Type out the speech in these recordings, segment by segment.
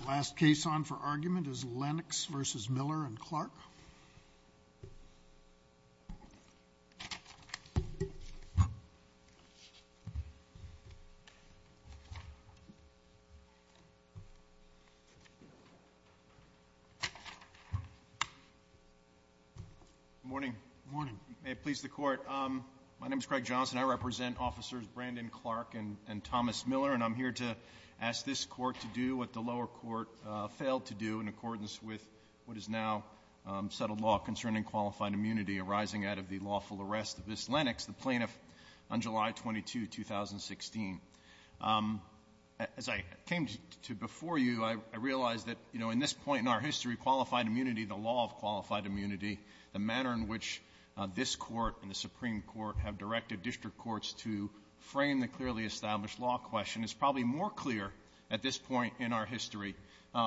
The last case on for argument is Lennox v. Miller v. Clarke. Craig Johnson Good morning. May it please the court. My name is Craig Johnson. I represent officers Brandon Clarke and Thomas Miller, and I'm here to ask this court to do what the lower court failed to do in accordance with what is now settled law concerning qualified immunity arising out of the lawful arrest of this Lennox, the plaintiff, on July 22, 2016. As I came to before you, I realized that, you know, in this point in our history, qualified immunity, the law of qualified immunity, the manner in which this Court and the Supreme Court have directed district courts to frame the clearly established law question is probably more clear at this point in our history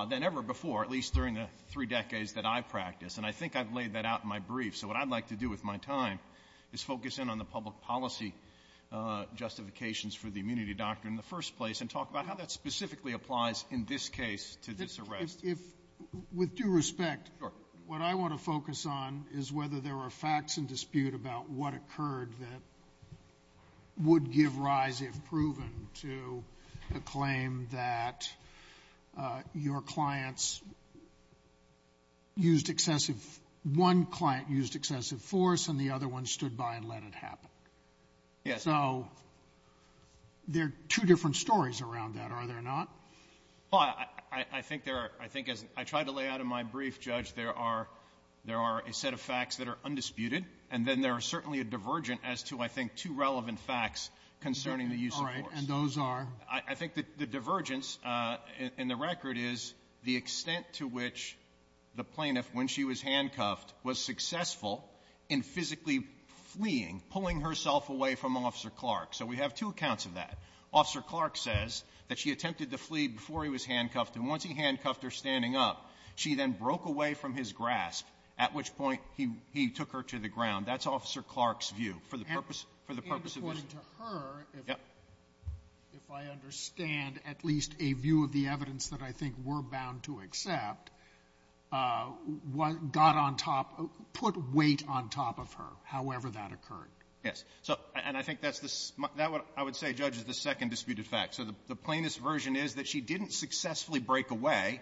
than ever before, at least during the three decades that I've practiced. And I think I've laid that out in my brief. So what I'd like to do with my time is focus in on the public policy justifications for the immunity doctrine in the first place and talk about how that specifically applies in this case to this arrest. Scalia With due respect, what I want to focus on is whether there are facts in dispute about what occurred that would give rise, if proven, to a claim that your clients used excessive one client used excessive force and the other one stood by and let it happen. So there are two different stories around that, are there not? Miller I think there are. I think as I tried to lay out in my brief, Judge, there are a set of facts that are certainly a divergent as to, I think, two relevant facts concerning the use of force. Sotomayor All right. And those are? Miller I think the divergence in the record is the extent to which the plaintiff, when she was handcuffed, was successful in physically fleeing, pulling herself away from Officer Clark. So we have two accounts of that. Officer Clark says that she attempted to flee before he was handcuffed, and once he handcuffed her standing up, she then broke away from his grasp, at which point he took her to the ground. That's Officer Clark's view, for the purpose of this. Sotomayor And according to her, if I understand at least a view of the evidence that I think we're bound to accept, got on top of her, put weight on top of her, however that occurred. Miller Yes. And I think that's what I would say, Judge, is the second disputed fact. So the plaintiff's version is that she didn't successfully break away.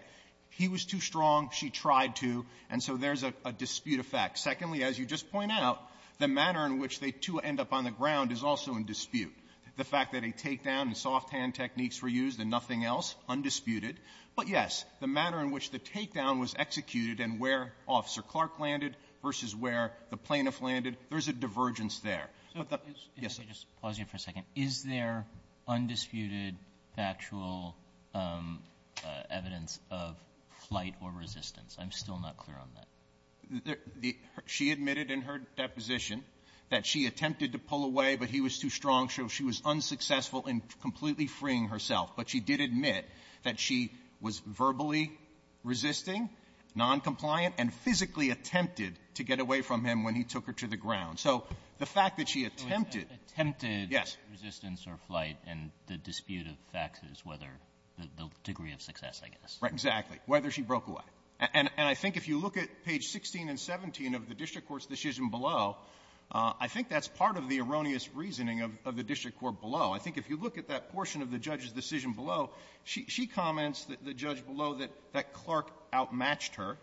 He was too strong. She tried to. And so there's a dispute of facts. Secondly, as you just point out, the manner in which they, too, end up on the ground is also in dispute. The fact that a takedown and soft-hand techniques were used and nothing else, undisputed. But, yes, the manner in which the takedown was executed and where Officer Clark landed versus where the plaintiff landed, there's a divergence there. But the ---- Robertson Yes. Let me just pause you for a second. Is there undisputed factual evidence of flight or resistance? I'm still not clear on that. Miller She admitted in her deposition that she attempted to pull away, but he was too strong. She was unsuccessful in completely freeing herself. But she did admit that she was verbally resisting, noncompliant, and physically attempted to get away from him when he took her to the ground. So the fact that she attempted ---- Robertson Attempted ---- Miller Yes. Robertson ---- resistance or flight and the dispute of facts is whether the degree of success, I guess. Miller Right. Exactly. Whether she broke away. And I think if you look at page 16 and 17 of the district court's decision below, I think that's part of the erroneous reasoning of the district court below. I think if you look at that portion of the judge's decision below, she comments that the judge below that Clark outmatched her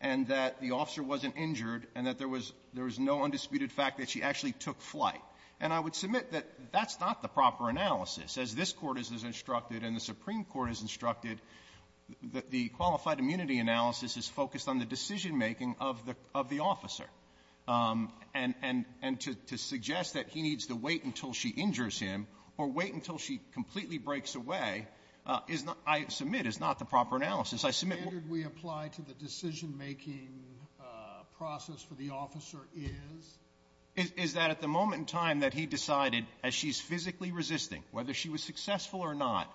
and that the officer wasn't injured and that there was no undisputed fact that she actually took flight. And I would submit that that's not the proper analysis. As this Court has instructed and the Supreme Court has instructed, the qualified immunity analysis is focused on the decision-making of the of the officer. And to suggest that he needs to wait until she injures him or wait until she completely breaks away is not, I submit, is not the proper analysis. I submit what ---- Sotomayor What standard we apply to the decision-making process for the officer is? Miller Is that at the moment in time that he decided as she's physically resisting, whether she was successful or not,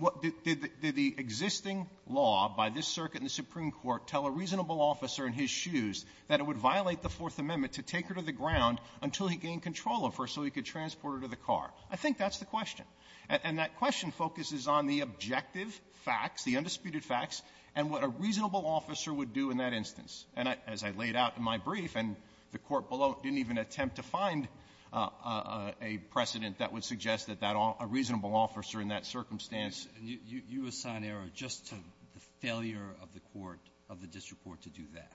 what did the existing law by this circuit in the Supreme Court tell a reasonable officer in his shoes that it would violate the Fourth Amendment to take her to the ground until he gained control of her so he could transport her to the car? I think that's the question. And that question focuses on the objective facts, the undisputed facts, and what a reasonable officer would do in that instance. And as I laid out in my brief, and the Court below didn't even attempt to find a precedent that would suggest that that all ---- a reasonable officer in that circumstance ---- Alito You assign error just to the failure of the court, of the district court, to do that.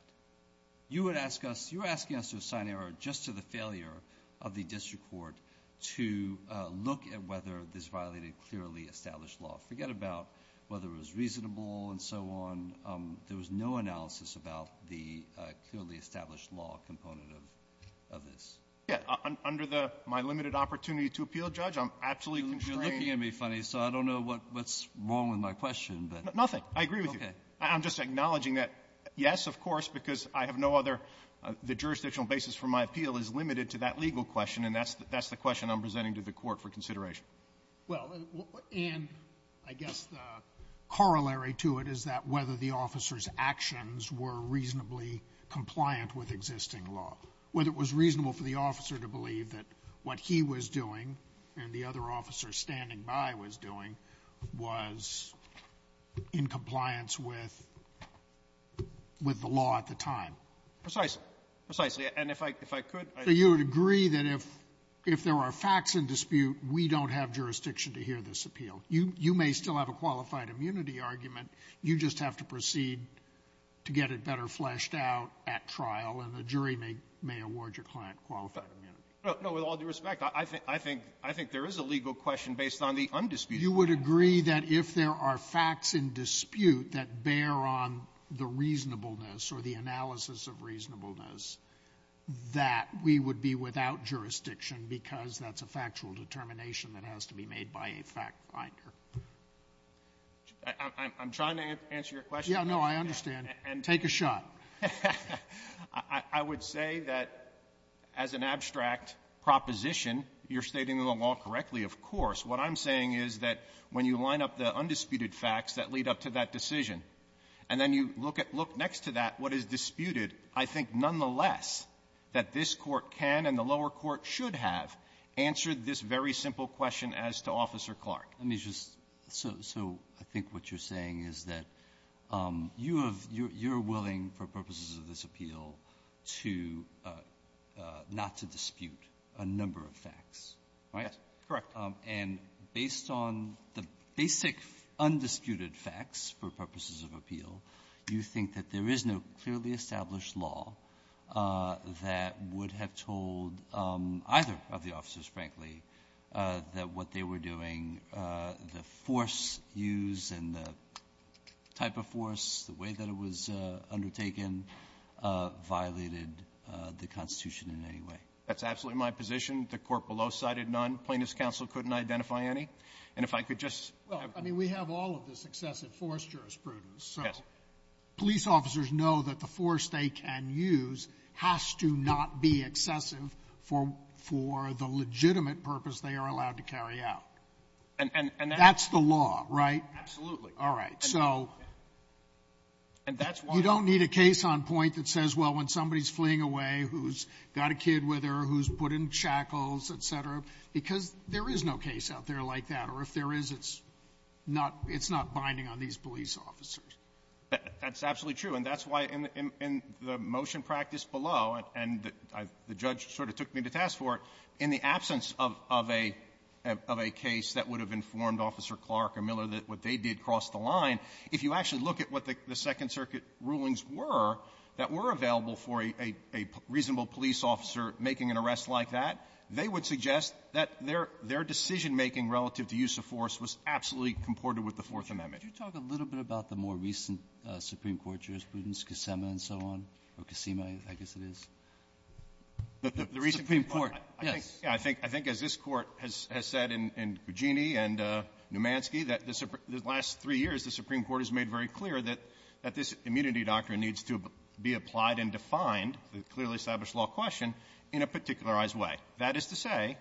You would ask us, you're asking us to assign error just to the failure of the district court to look at whether this violated clearly established law. Forget about whether it was reasonable and so on. There was no analysis about the clearly established law component of this. Fisher Yeah. Under the my limited opportunity to appeal, Judge, I'm absolutely constrained. Alito You're looking at me funny, so I don't know what's wrong with my question, but ---- Fisher Nothing. I agree with you. Alito Okay. Fisher I'm just acknowledging that, yes, of course, because I have no other ---- the jurisdictional basis for my appeal is limited to that legal question, and that's the question I'm presenting to the Court for consideration. Sotomayor Well, and I guess the corollary to it is that whether the officer's actions were reasonably compliant with existing law, whether it was reasonable for the officer to believe that what he was doing and the other officer standing by was doing was in compliance with the law at the time. Fisher Precisely. Precisely. And if I could, I ---- there are facts in dispute, we don't have jurisdiction to hear this appeal. You may still have a qualified immunity argument. You just have to proceed to get it better fleshed out at trial, and the jury may award your client qualified immunity. Fisher No. No. With all due respect, I think there is a legal question based on the undisputed argument. Sotomayor You would agree that if there are facts in dispute that bear on the reasonableness or the analysis of reasonableness, that we would be without jurisdiction because that's a factual determination that has to be made by a fact finder? Fisher I'm trying to answer your question. Sotomayor Yeah, no, I understand. Take a shot. Fisher I would say that as an abstract proposition, you're stating the law correctly. Of course. What I'm saying is that when you line up the undisputed facts that lead up to that what is disputed, I think nonetheless that this Court can and the lower court should have answered this very simple question as to Officer Clark. Alito Let me just so so I think what you're saying is that you have you're you're willing for purposes of this appeal to not to dispute a number of facts, right? Fisher Yes. Correct. Alito And based on the basic undisputed facts for purposes of appeal, you think that there is no clearly established law that would have told either of the officers, frankly, that what they were doing, the force used and the type of force, the way that it was undertaken, violated the Constitution in any way? Fisher That's absolutely my position. The court below cited none. Plaintiff's counsel couldn't identify any. And if I could just Sotomayor Well, I mean, we have all of this excessive force jurisprudence. Fisher Yes. Sotomayor So police officers know that the force they can use has to not be excessive for for the legitimate purpose they are allowed to carry out. Fisher And that's Sotomayor That's the law, right? Fisher Absolutely. Sotomayor All right. So you don't need a case on point that says, well, when somebody's fleeing away, who's got a kid with her, who's put in shackles, et cetera, because there is no case out there like that, or if there is, it's not binding on these police officers. Fisher That's absolutely true. And that's why in the motion practice below, and the judge sort of took me to task for it, in the absence of a case that would have informed Officer Clark or Miller that what they did crossed the line, if you actually look at what the Second Circuit rulings were that were available for a reasonable police officer making an arrest like that, they would suggest that their decision-making relative to use of force was absolutely comported with the Fourth Amendment. Breyer Could you talk a little bit about the more recent Supreme Court jurisprudence, Kissima and so on, or Kissima, I guess it is? Fisher The recent Supreme Court… Breyer Yes. Fisher I think as this Court has said in Cugini and Numanski, that the last three years, the Supreme Court has made very clear that this immunity doctrine needs to be That is to say,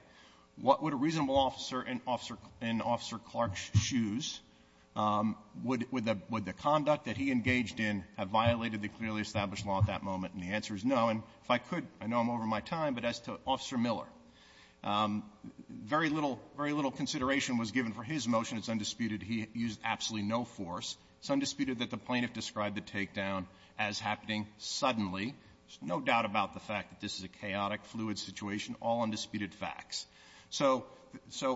what would a reasonable officer in Officer Clark's shoes, would the conduct that he engaged in have violated the clearly established law at that moment? And the answer is no. And if I could, I know I'm over my time, but as to Officer Miller, very little consideration was given for his motion. It's undisputed. He used absolutely no force. It's undisputed that the plaintiff described the takedown as happening suddenly. There's no doubt about the fact that this is a chaotic, fluid situation, all undisputed facts. So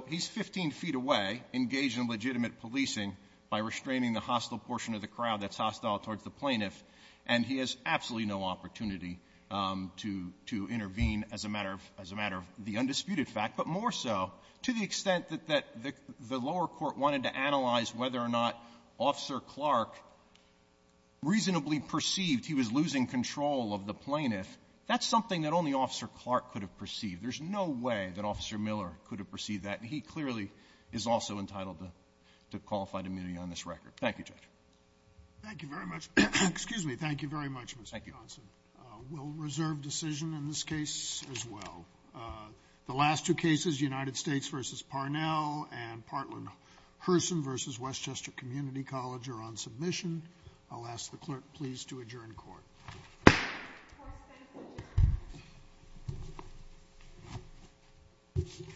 he's 15 feet away, engaged in legitimate policing by restraining the hostile portion of the crowd that's hostile towards the plaintiff, and he has absolutely no opportunity to intervene as a matter of the undisputed fact, but more so to the extent that the lower court wanted to analyze whether or not Officer Clark could have perceived. There's no way that Officer Miller could have perceived that. And he clearly is also entitled to qualified immunity on this record. Thank you, Judge. Thank you very much. Excuse me. Thank you very much, Mr. Johnson. We'll reserve decision in this case as well. The last two cases, United States v. Parnell and Partland-Herson v. Westchester Community College, are on submission. I'll ask the clerk, please, to adjourn court. Court is adjourned. Thank you.